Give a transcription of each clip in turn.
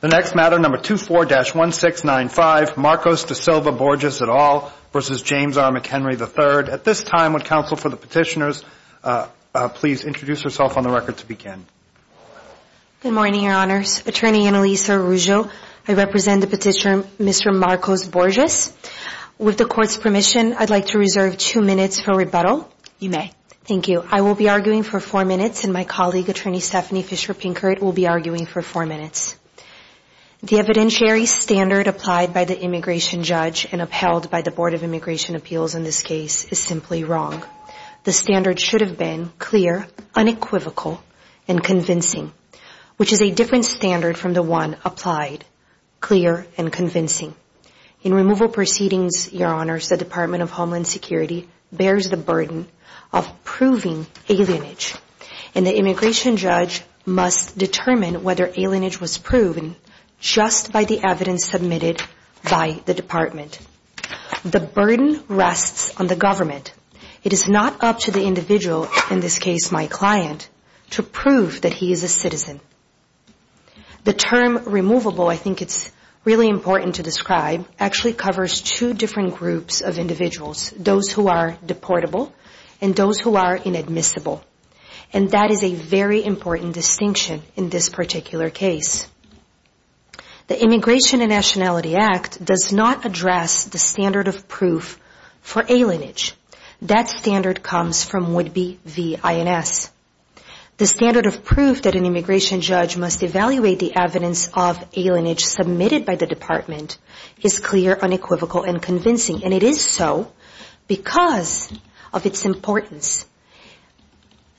The next matter, number 24-1695, Marcos da Silva Borges et al. v. James R. McHenry III. At this time, would counsel for the petitioners please introduce yourself on the record to begin. Good morning, Your Honors. Attorney Annalisa Ruggio, I represent the petitioner Mr. Marcos Borges. With the Court's permission, I'd like to reserve two minutes for rebuttal. You may. Thank you. I will be arguing for four minutes, and my colleague, Attorney Stephanie Fischer Pinkert, will be arguing for four minutes. The evidentiary standard applied by the immigration judge and upheld by the Board of Immigration Appeals in this case is simply wrong. The standard should have been clear, unequivocal, and convincing, which is a different standard from the one applied, clear, and convincing. In removal proceedings, Your Honors, the Department of Homeland Security bears the burden of proving alienage, and the immigration judge must determine whether alienage was proven just by the evidence submitted by the Department. The burden rests on the government. It is not up to the individual, in this case my client, to prove that he is a citizen. The term removable, I think it's really important to describe, actually covers two different groups of individuals, those who are deportable and those who are inadmissible, and that is a very important distinction in this particular case. The Immigration and Nationality Act does not address the standard of proof for alienage. That standard comes from Whidbey v. INS. The standard of proof that an immigration judge must evaluate the evidence of alienage submitted by the Department is clear, unequivocal, and convincing, and it is so because of its importance.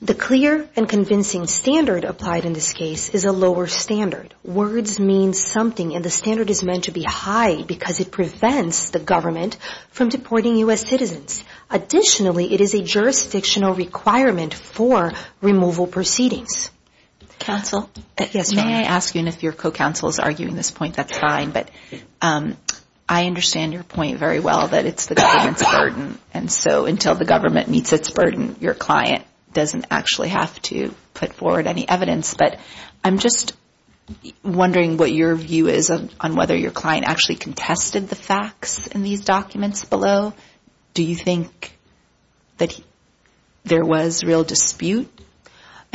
The clear and convincing standard applied in this case is a lower standard. Words mean something, and the standard is meant to be high because it prevents the government from deporting U.S. citizens. Additionally, it is a jurisdictional requirement for removal proceedings. Counsel? May I ask you, and if your co-counsel is arguing this point, that's fine, but I understand your point very well that it's the government's burden, and so until the government meets its burden, your client doesn't actually have to put forward any evidence. But I'm just wondering what your view is on whether your client actually contested the facts in these documents below. Do you think that there was real dispute?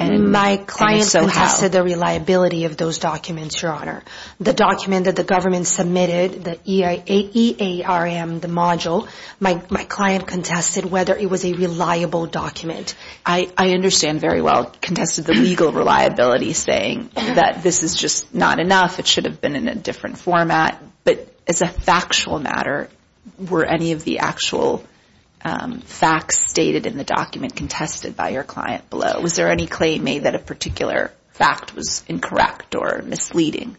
My client contested the reliability of those documents, Your Honor. The document that the government submitted, the EARM, the module, my client contested whether it was a reliable document. I understand very well, contested the legal reliability, saying that this is just not enough, it should have been in a different format. But as a factual matter, were any of the actual facts stated in the document contested by your client below? Was there any claim made that a particular fact was incorrect or misleading?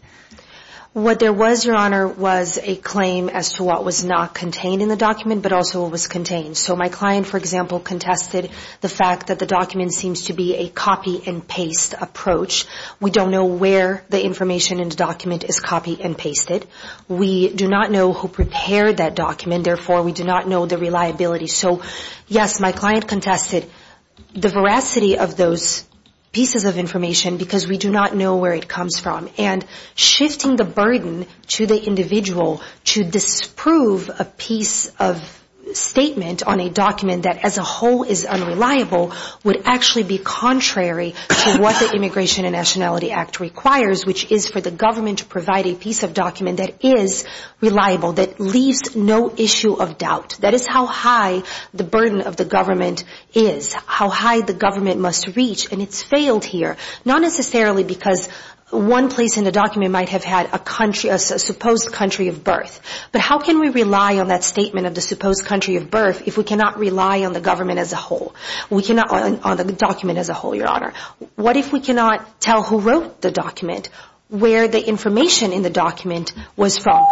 What there was, Your Honor, was a claim as to what was not contained in the document but also what was contained. So my client, for example, contested the fact that the document seems to be a copy-and-paste approach. We don't know where the information in the document is copy-and-pasted. We do not know who prepared that document. Therefore, we do not know the reliability. So, yes, my client contested the veracity of those pieces of information because we do not know where it comes from. And shifting the burden to the individual to disprove a piece of statement on a document that as a whole is unreliable would actually be contrary to what the Immigration and Nationality Act requires, which is for the government to provide a piece of document that is reliable, that leaves no issue of doubt. That is how high the burden of the government is, how high the government must reach, and it's failed here, not necessarily because one place in the document might have had a supposed country of birth. But how can we rely on that statement of the supposed country of birth if we cannot rely on the government as a whole, on the document as a whole, Your Honor? What if we cannot tell who wrote the document, where the information in the document was from?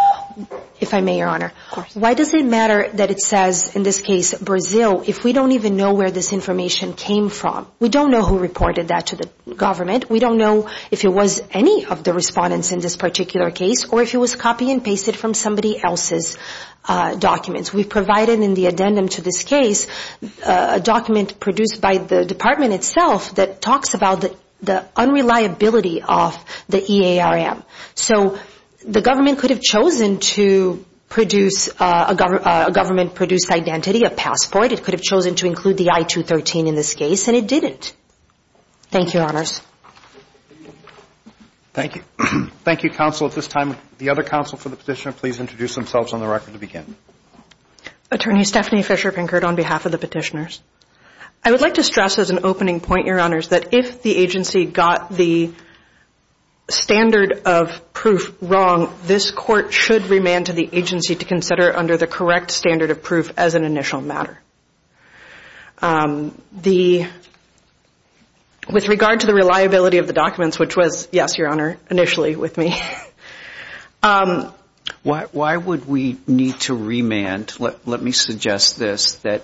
If I may, Your Honor. Of course. Why does it matter that it says, in this case, Brazil, if we don't even know where this information came from? We don't know who reported that to the government. We don't know if it was any of the respondents in this particular case or if it was copy and pasted from somebody else's documents. We provided in the addendum to this case a document produced by the department itself that talks about the unreliability of the EARM. So the government could have chosen to produce a government-produced identity, a passport. It could have chosen to include the I-213 in this case, and it didn't. Thank you, Your Honors. Thank you. Thank you, counsel. At this time, the other counsel for the petitioner, please introduce themselves on the record to begin. Attorney Stephanie Fisher Pinkert on behalf of the petitioners. I would like to stress as an opening point, Your Honors, that if the agency got the standard of proof wrong, this court should remand to the agency to consider it under the correct standard of proof as an initial matter. With regard to the reliability of the documents, which was, yes, Your Honor, initially with me. Why would we need to remand? Let me suggest this, that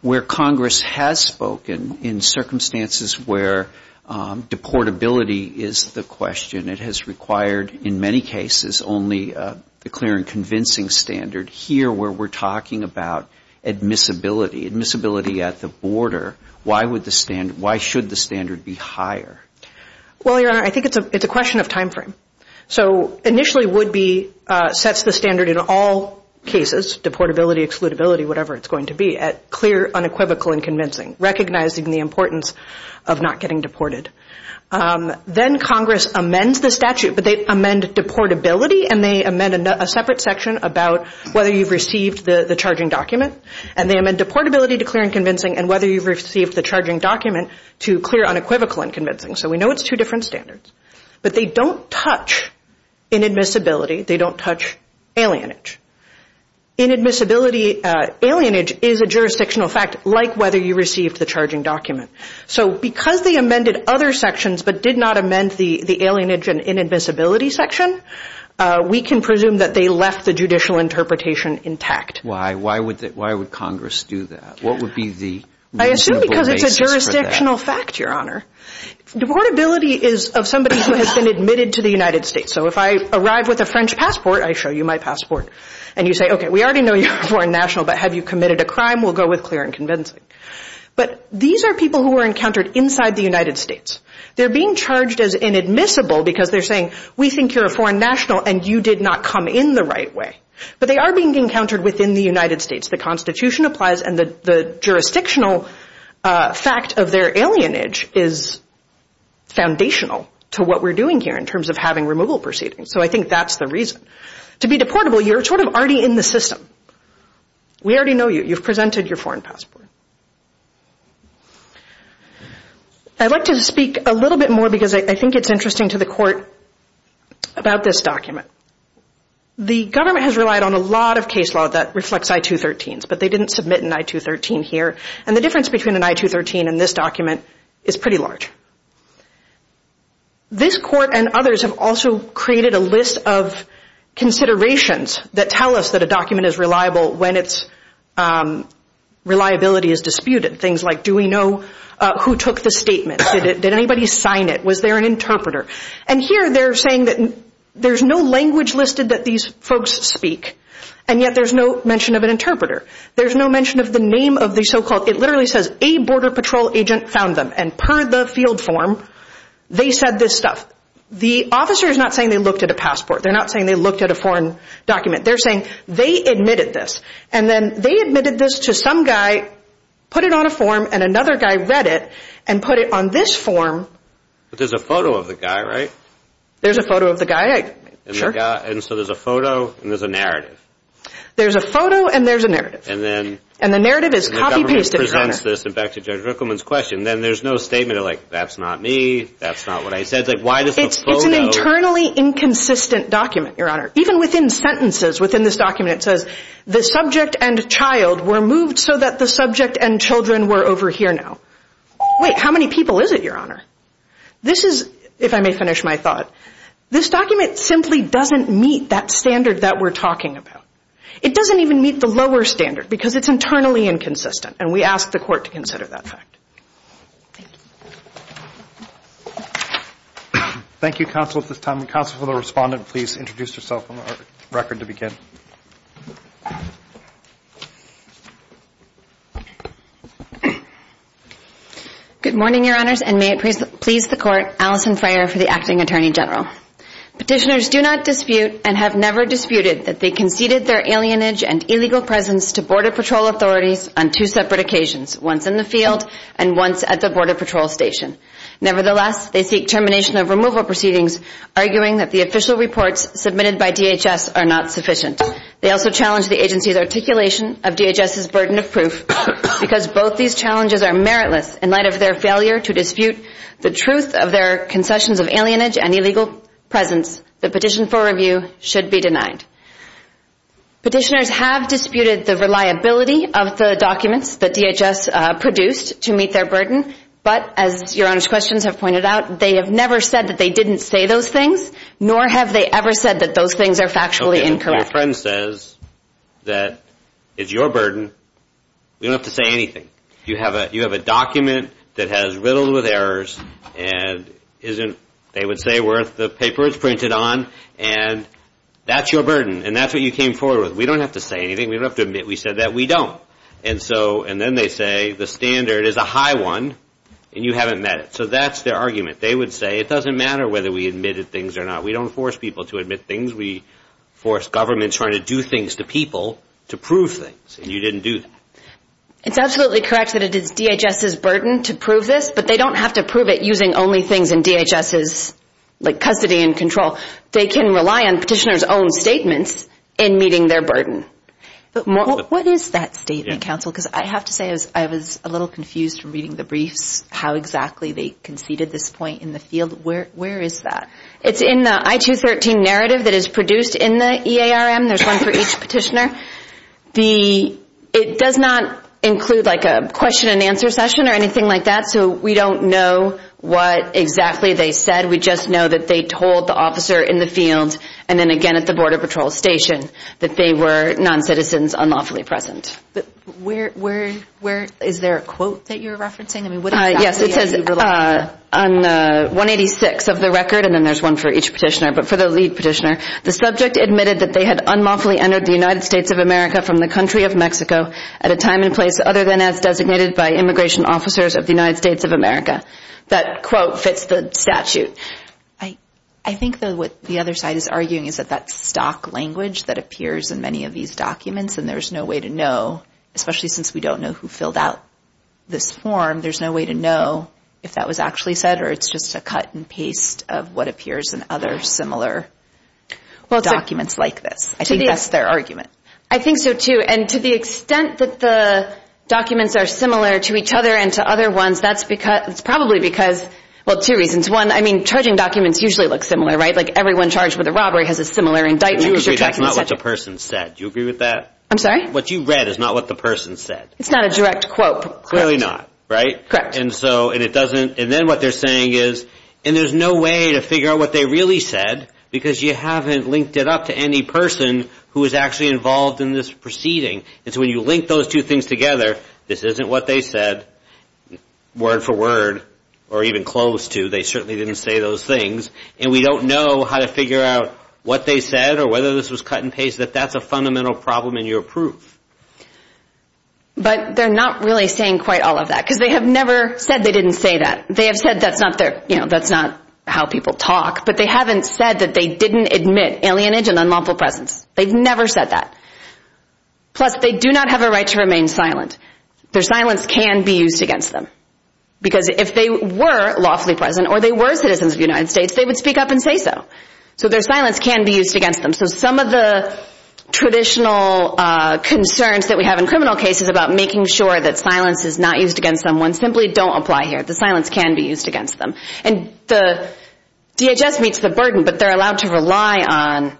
where Congress has spoken in circumstances where deportability is the question, it has required in many cases only a clear and convincing standard. Here where we're talking about admissibility, admissibility at the border, why should the standard be higher? Well, Your Honor, I think it's a question of time frame. So initially would be sets the standard in all cases, deportability, excludability, whatever it's going to be, at clear, unequivocal, and convincing, recognizing the importance of not getting deported. Then Congress amends the statute, but they amend deportability, and they amend a separate section about whether you've received the charging document, and they amend deportability to clear and convincing, and whether you've received the charging document to clear, unequivocal, and convincing. So we know it's two different standards. But they don't touch inadmissibility. They don't touch alienage. Inadmissibility, alienage is a jurisdictional fact like whether you received the charging document. So because they amended other sections but did not amend the alienage and inadmissibility section, we can presume that they left the judicial interpretation intact. Why? Why would Congress do that? What would be the reasonable basis for that? I assume because it's a jurisdictional fact, Your Honor. Deportability is of somebody who has been admitted to the United States. So if I arrive with a French passport, I show you my passport. And you say, okay, we already know you're a foreign national, but have you committed a crime? We'll go with clear and convincing. But these are people who were encountered inside the United States. They're being charged as inadmissible because they're saying, we think you're a foreign national and you did not come in the right way. But they are being encountered within the United States. The Constitution applies and the jurisdictional fact of their alienage is foundational to what we're doing here in terms of having removal proceedings. So I think that's the reason. To be deportable, you're sort of already in the system. We already know you. You've presented your foreign passport. I'd like to speak a little bit more because I think it's interesting to the Court about this document. The government has relied on a lot of case law that reflects I-213s, but they didn't submit an I-213 here. And the difference between an I-213 and this document is pretty large. This Court and others have also created a list of considerations that tell us that a document is reliable when its reliability is disputed. Things like, do we know who took the statement? Did anybody sign it? Was there an interpreter? And here they're saying that there's no language listed that these folks speak, and yet there's no mention of an interpreter. There's no mention of the name of the so-called, it literally says, a border patrol agent found them. And per the field form, they said this stuff. The officer is not saying they looked at a passport. They're not saying they looked at a foreign document. They're saying they admitted this. And then they admitted this to some guy, put it on a form, and another guy read it and put it on this form. But there's a photo of the guy, right? There's a photo of the guy, sure. And so there's a photo and there's a narrative. There's a photo and there's a narrative. And the narrative is copy-pasted, Your Honor. The government presents this, and back to Judge Rickleman's question, then there's no statement like, that's not me, that's not what I said. It's an internally inconsistent document, Your Honor. Even within sentences within this document it says, the subject and child were moved so that the subject and children were over here now. Wait, how many people is it, Your Honor? This is, if I may finish my thought, this document simply doesn't meet that standard that we're talking about. It doesn't even meet the lower standard because it's internally inconsistent, and we ask the court to consider that fact. Thank you. Thank you, counsel, at this time. Counsel for the respondent, please introduce yourself on the record to begin. Good morning, Your Honors, and may it please the court, Alison Freyer for the Acting Attorney General. Petitioners do not dispute and have never disputed that they conceded their alienage and illegal presence to Border Patrol authorities on two separate occasions, once in the field and once at the Border Patrol station. Nevertheless, they seek termination of removal proceedings, arguing that the official reports submitted by DHS are not sufficient. They also challenge the agency's articulation of DHS's burden of proof. Because both these challenges are meritless, in light of their failure to dispute the truth of their concessions of alienage and illegal presence, the petition for review should be denied. Petitioners have disputed the reliability of the documents that DHS produced to meet their burden, but as Your Honors' questions have pointed out, they have never said that they didn't say those things, nor have they ever said that those things are factually incorrect. Okay, your friend says that it's your burden. We don't have to say anything. You have a document that has riddled with errors, and they would say where the paper is printed on, and that's your burden, and that's what you came forward with. We don't have to say anything. We don't have to admit we said that. We don't. And then they say the standard is a high one, and you haven't met it. So that's their argument. They would say it doesn't matter whether we admitted things or not. We don't force people to admit things. We force governments trying to do things to people to prove things, and you didn't do that. It's absolutely correct that it is DHS's burden to prove this, but they don't have to prove it using only things in DHS's custody and control. They can rely on petitioners' own statements in meeting their burden. What is that statement, counsel? Because I have to say I was a little confused from reading the briefs how exactly they conceded this point in the field. Where is that? It's in the I-213 narrative that is produced in the EARM. There's one for each petitioner. It does not include like a question-and-answer session or anything like that, so we don't know what exactly they said. We just know that they told the officer in the field and then again at the Border Patrol station that they were noncitizens unlawfully present. Is there a quote that you're referencing? Yes, it says on 186 of the record, and then there's one for each petitioner, but for the lead petitioner, the subject admitted that they had unlawfully entered the United States of America from the country of Mexico at a time and place other than as designated by immigration officers of the United States of America. That quote fits the statute. I think that what the other side is arguing is that that's stock language that appears in many of these documents, and there's no way to know, especially since we don't know who filled out this form, there's no way to know if that was actually said or it's just a cut and paste of what appears in other similar documents like this. I think that's their argument. I think so, too, and to the extent that the documents are similar to each other and to other ones, that's probably because, well, two reasons. One, I mean, charging documents usually look similar, right? Like everyone charged with a robbery has a similar indictment. That's not what the person said. Do you agree with that? I'm sorry? What you read is not what the person said. It's not a direct quote. Clearly not, right? Correct. And then what they're saying is, and there's no way to figure out what they really said because you haven't linked it up to any person who was actually involved in this proceeding, and so when you link those two things together, this isn't what they said word for word or even close to. They certainly didn't say those things, and we don't know how to figure out what they said or whether this was cut and paste, that that's a fundamental problem in your proof. But they're not really saying quite all of that because they have never said they didn't say that. They have said that's not how people talk, but they haven't said that they didn't admit alienage and unlawful presence. They've never said that. Plus, they do not have a right to remain silent. Their silence can be used against them because if they were lawfully present or they were citizens of the United States, they would speak up and say so. So their silence can be used against them. So some of the traditional concerns that we have in criminal cases about making sure that silence is not used against someone simply don't apply here. The silence can be used against them. And the DHS meets the burden, but they're allowed to rely on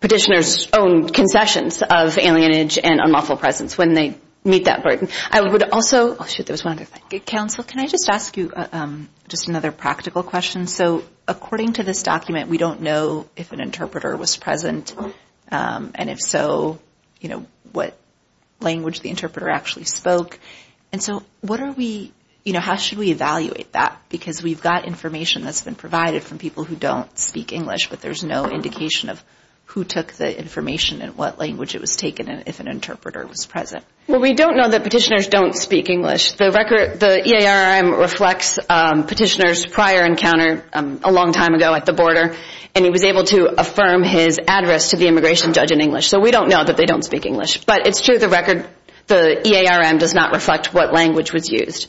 petitioners' own concessions of alienage and unlawful presence when they meet that burden. I would also... Council, can I just ask you just another practical question? So according to this document, we don't know if an interpreter was present. And if so, you know, what language the interpreter actually spoke. And so what are we... You know, how should we evaluate that? Because we've got information that's been provided from people who don't speak English, but there's no indication of who took the information and what language it was taken in if an interpreter was present. Well, we don't know that petitioners don't speak English. The EARM reflects petitioners' prior encounter a long time ago at the border, and he was able to affirm his address to the immigration judge in English. So we don't know that they don't speak English. But it's true the EARM does not reflect what language was used.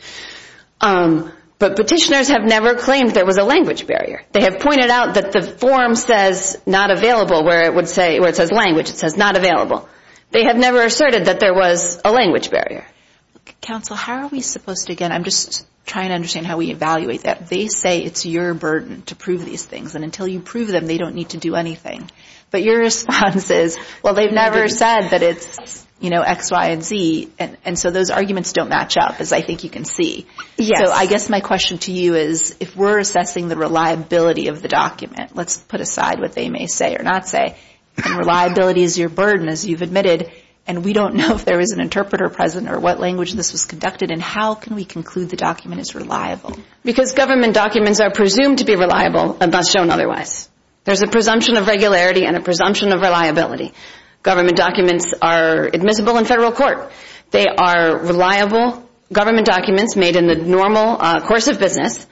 But petitioners have never claimed there was a language barrier. They have pointed out that the form says not available, where it says language, it says not available. They have never asserted that there was a language barrier. Counsel, how are we supposed to, again, I'm just trying to understand how we evaluate that. They say it's your burden to prove these things, and until you prove them, they don't need to do anything. But your response is, well, they've never said that it's, you know, X, Y, and Z, and so those arguments don't match up, as I think you can see. So I guess my question to you is, if we're assessing the reliability of the document, let's put aside what they may say or not say, and reliability is your burden, as you've admitted, and we don't know if there is an interpreter present or what language this was conducted in, how can we conclude the document is reliable? Because government documents are presumed to be reliable and not shown otherwise. There's a presumption of regularity and a presumption of reliability. Government documents are admissible in federal court. They are reliable government documents made in the normal course of business.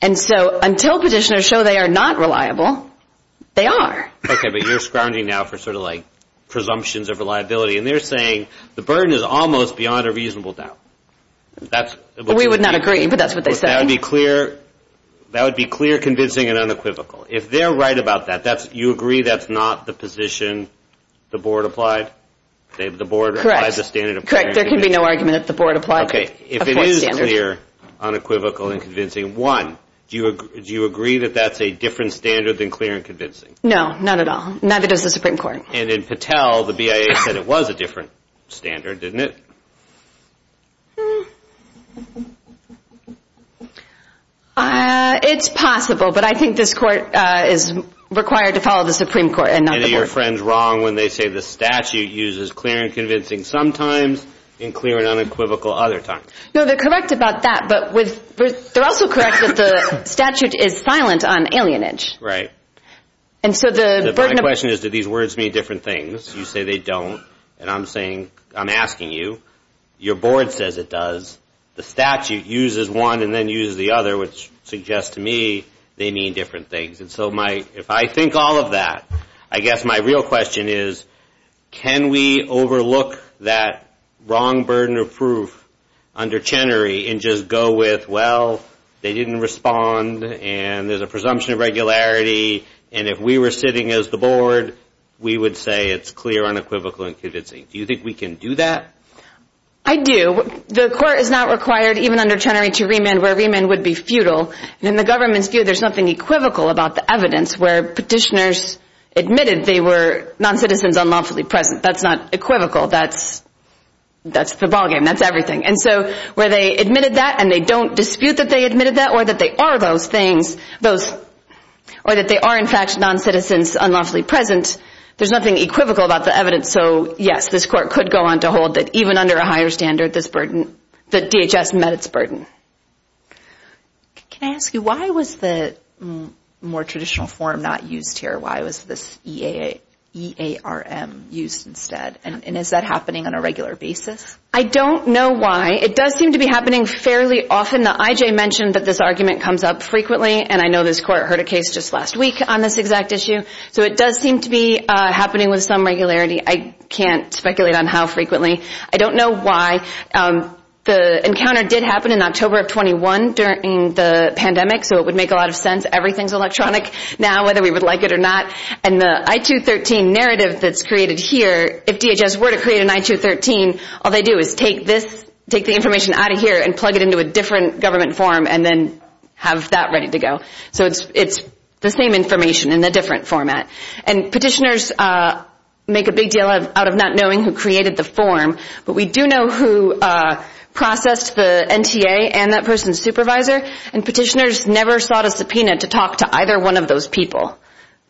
And so until petitioners show they are not reliable, they are. Okay, but you're scrounging now for sort of like presumptions of reliability, and they're saying the burden is almost beyond a reasonable doubt. We would not agree, but that's what they're saying. That would be clear, convincing, and unequivocal. If they're right about that, you agree that's not the position the board applied? Correct. There can be no argument that the board applied a standard. Okay, if it is clear, unequivocal, and convincing, one, do you agree that that's a different standard than clear and convincing? No, not at all. Neither does the Supreme Court. And in Patel, the BIA said it was a different standard, didn't it? It's possible, but I think this court is required to follow the Supreme Court and not the board. And are your friends wrong when they say the statute uses clear and convincing sometimes and clear and unequivocal other times? No, they're correct about that, but they're also correct that the statute is silent on alienage. Right. My question is, do these words mean different things? You say they don't, and I'm asking you. Your board says it does. The statute uses one and then uses the other, which suggests to me they mean different things. And so if I think all of that, I guess my real question is, can we overlook that wrong burden of proof under Chenery and just go with, well, they didn't respond, and there's a presumption of regularity, and if we were sitting as the board, we would say it's clear, unequivocal, and convincing. Do you think we can do that? I do. The court is not required, even under Chenery, to remand where remand would be futile. In the government's view, there's nothing equivocal about the evidence where petitioners admitted they were noncitizens unlawfully present. That's not equivocal. That's the ballgame. That's everything. And so where they admitted that and they don't dispute that they admitted that or that they are those things, or that they are, in fact, noncitizens unlawfully present, there's nothing equivocal about the evidence. So, yes, this court could go on to hold that even under a higher standard, this burden, that DHS met its burden. Can I ask you, why was the more traditional form not used here? Why was this EARM used instead? And is that happening on a regular basis? I don't know why. It does seem to be happening fairly often. The IJ mentioned that this argument comes up frequently, and I know this court heard a case just last week on this exact issue. So it does seem to be happening with some regularity. I can't speculate on how frequently. I don't know why. The encounter did happen in October of 21 during the pandemic, so it would make a lot of sense. Everything's electronic now, whether we would like it or not. And the I-213 narrative that's created here, if DHS were to create an I-213, all they do is take the information out of here and plug it into a different government form and then have that ready to go. So it's the same information in a different format. And petitioners make a big deal out of not knowing who created the form, but we do know who processed the NTA and that person's supervisor, and petitioners never sought a subpoena to talk to either one of those people.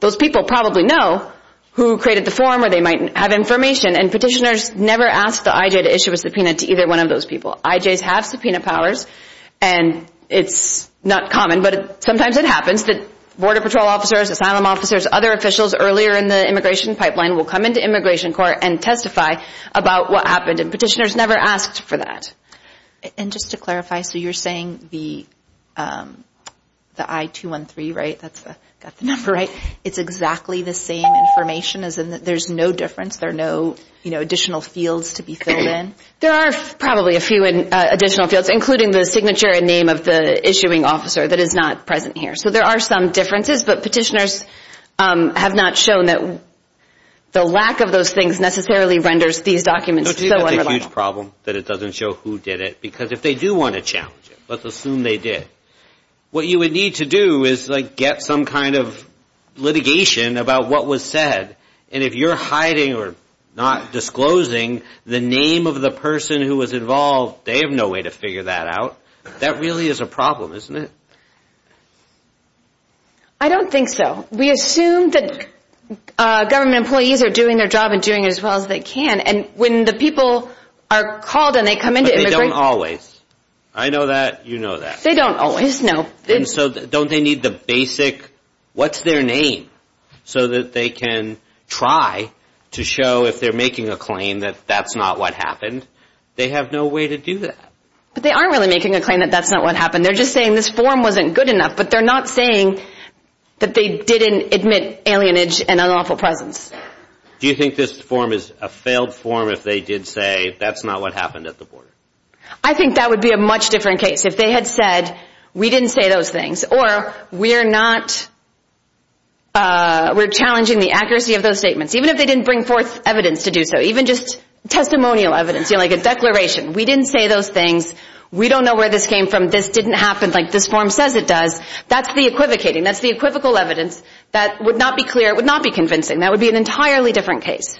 Those people probably know who created the form or they might have information, and petitioners never ask the IJ to issue a subpoena to either one of those people. IJs have subpoena powers, and it's not common, but sometimes it happens that Border Patrol officers, asylum officers, other officials earlier in the immigration pipeline will come into Immigration Court and testify about what happened, and petitioners never asked for that. And just to clarify, so you're saying the I-213, right? That's the number, right? It's exactly the same information? There's no difference? There are no additional fields to be filled in? There are probably a few additional fields, including the signature and name of the issuing officer that is not present here. So there are some differences, but petitioners have not shown that the lack of those things necessarily renders these documents so unreliable. That's a huge problem that it doesn't show who did it, because if they do want to challenge it, let's assume they did, what you would need to do is get some kind of litigation about what was said, and if you're hiding or not disclosing the name of the person who was involved, they have no way to figure that out. That really is a problem, isn't it? I don't think so. We assume that government employees are doing their job and doing it as well as they can, and when the people are called and they come into immigration... But they don't always. I know that, you know that. They don't always, no. And so don't they need the basic, what's their name, so that they can try to show if they're making a claim that that's not what happened? They have no way to do that. But they aren't really making a claim that that's not what happened. They're just saying this form wasn't good enough, but they're not saying that they didn't admit alienage and unlawful presence. Do you think this form is a failed form if they did say that's not what happened at the border? I think that would be a much different case. If they had said, we didn't say those things, or we're challenging the accuracy of those statements, even if they didn't bring forth evidence to do so, even just testimonial evidence, like a declaration. We didn't say those things. We don't know where this came from. This didn't happen like this form says it does. That's the equivocating. That's the equivocal evidence. That would not be clear. It would not be convincing. That would be an entirely different case.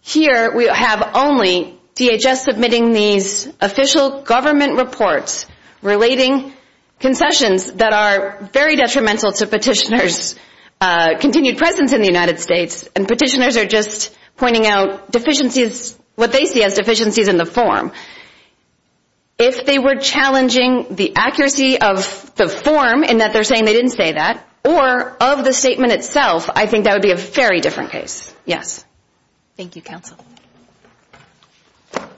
Here we have only DHS submitting these official government reports relating concessions that are very detrimental to petitioners' continued presence in the United States. And petitioners are just pointing out deficiencies, what they see as deficiencies in the form. If they were challenging the accuracy of the form, in that they're saying they didn't say that, or of the statement itself, I think that would be a very different case. Yes. Thank you, Counsel. Thank you,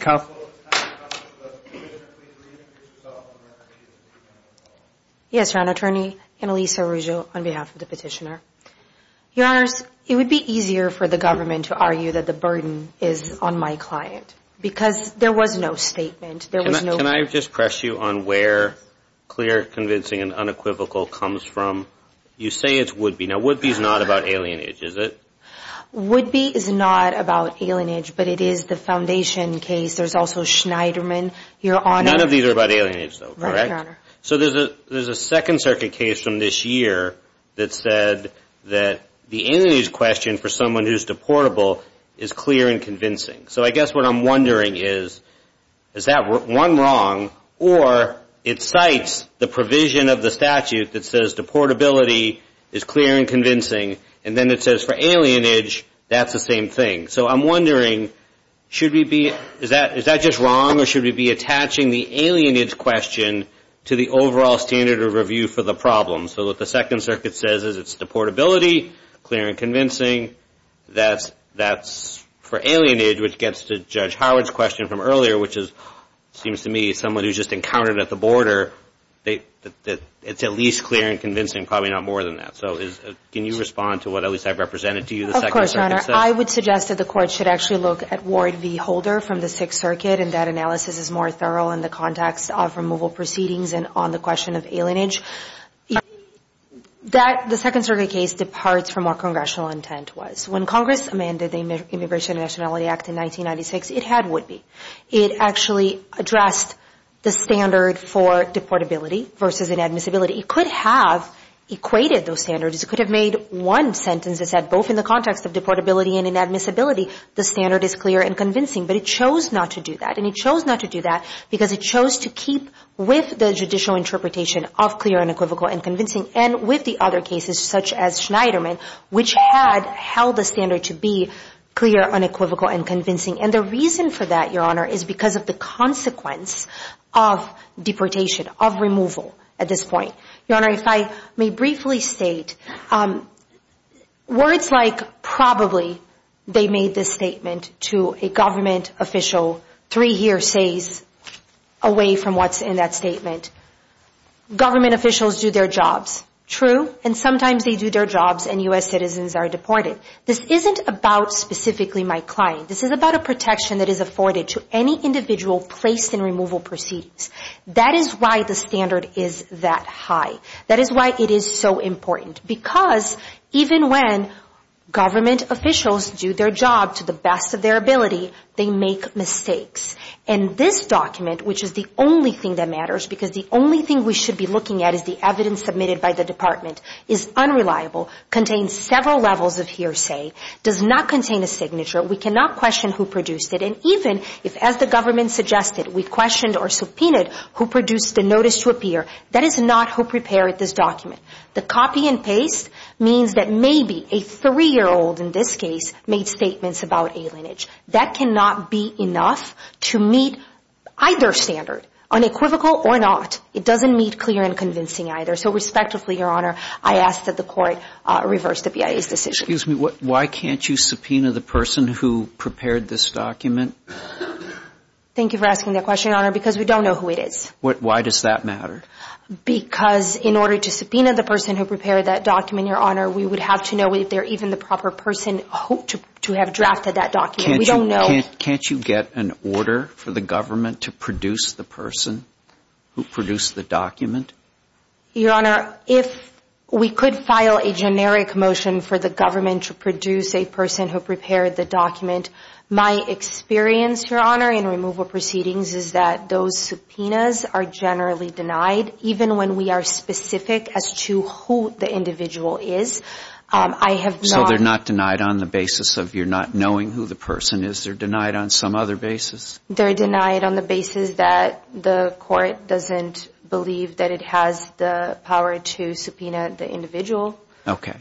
Counsel. Counsel to the petitioner. Please reintroduce yourself on behalf of the petitioner. Yes, Your Honor. Attorney Annalisa Ruggio on behalf of the petitioner. Your Honors, it would be easier for the government to argue that the burden is on my client because there was no statement. Can I just press you on where clear, convincing, and unequivocal comes from? You say it would be. Now, would be is not about alienage, is it? Would be is not about alienage, but it is the foundation case. There's also Schneiderman. None of these are about alienage, though, correct? Right, Your Honor. So there's a Second Circuit case from this year that said that the alienage question for someone who's deportable is clear and convincing. So I guess what I'm wondering is, is that one wrong, or it cites the provision of the statute that says deportability is clear and convincing, and then it says for alienage, that's the same thing. So I'm wondering, is that just wrong, or should we be attaching the alienage question to the overall standard of review for the problem? So what the Second Circuit says is it's deportability, clear and convincing. That's for alienage, which gets to Judge Howard's question from earlier, which seems to me someone who's just encountered at the border, it's at least clear and convincing, probably not more than that. So can you respond to what at least I've represented to you, the Second Circuit says? Of course, Your Honor. I would suggest that the Court should actually look at Ward v. Holder from the Sixth Circuit, and that analysis is more thorough in the context of removal proceedings and on the question of alienage. The Second Circuit case departs from what congressional intent was. When Congress amended the Immigration and Nationality Act in 1996, it had would be. It actually addressed the standard for deportability versus inadmissibility. It could have equated those standards. It could have made one sentence that said, both in the context of deportability and inadmissibility, the standard is clear and convincing. But it chose not to do that, and it chose not to do that because it chose to keep with the judicial interpretation of clear, unequivocal, and convincing, and with the other cases such as Schneiderman, which had held the standard to be clear, unequivocal, and convincing. And the reason for that, Your Honor, is because of the consequence of deportation, of removal at this point. Your Honor, if I may briefly state, words like probably, they made this statement to a government official, three hearsays away from what's in that statement. Government officials do their jobs, true, and sometimes they do their jobs and U.S. citizens are deported. This isn't about specifically my client. This is about a protection that is afforded to any individual placed in removal proceedings. That is why the standard is that high. That is why it is so important, because even when government officials do their job to the best of their ability, they make mistakes. And this document, which is the only thing that matters, because the only thing we should be looking at is the evidence submitted by the Department, is unreliable, contains several levels of hearsay, does not contain a signature. We cannot question who produced it. And even if, as the government suggested, we questioned or subpoenaed who produced the notice to appear, that is not who prepared this document. The copy and paste means that maybe a three-year-old in this case made statements about alienage. That cannot be enough to meet either standard, unequivocal or not. It doesn't meet clear and convincing either. So, respectfully, Your Honor, I ask that the Court reverse the BIA's decision. Excuse me. Why can't you subpoena the person who prepared this document? Thank you for asking that question, Your Honor, because we don't know who it is. Why does that matter? Because in order to subpoena the person who prepared that document, Your Honor, we would have to know if they're even the proper person hoped to have drafted that document. We don't know. Can't you get an order for the government to produce the person who produced the document? Your Honor, if we could file a generic motion for the government to produce a person who prepared the document, my experience, Your Honor, in removal proceedings, is that those subpoenas are generally denied, even when we are specific as to who the individual is. So they're not denied on the basis of you not knowing who the person is? They're denied on some other basis? They're denied on the basis that the Court doesn't believe that it has the power to subpoena the individual. Thank you, counsel.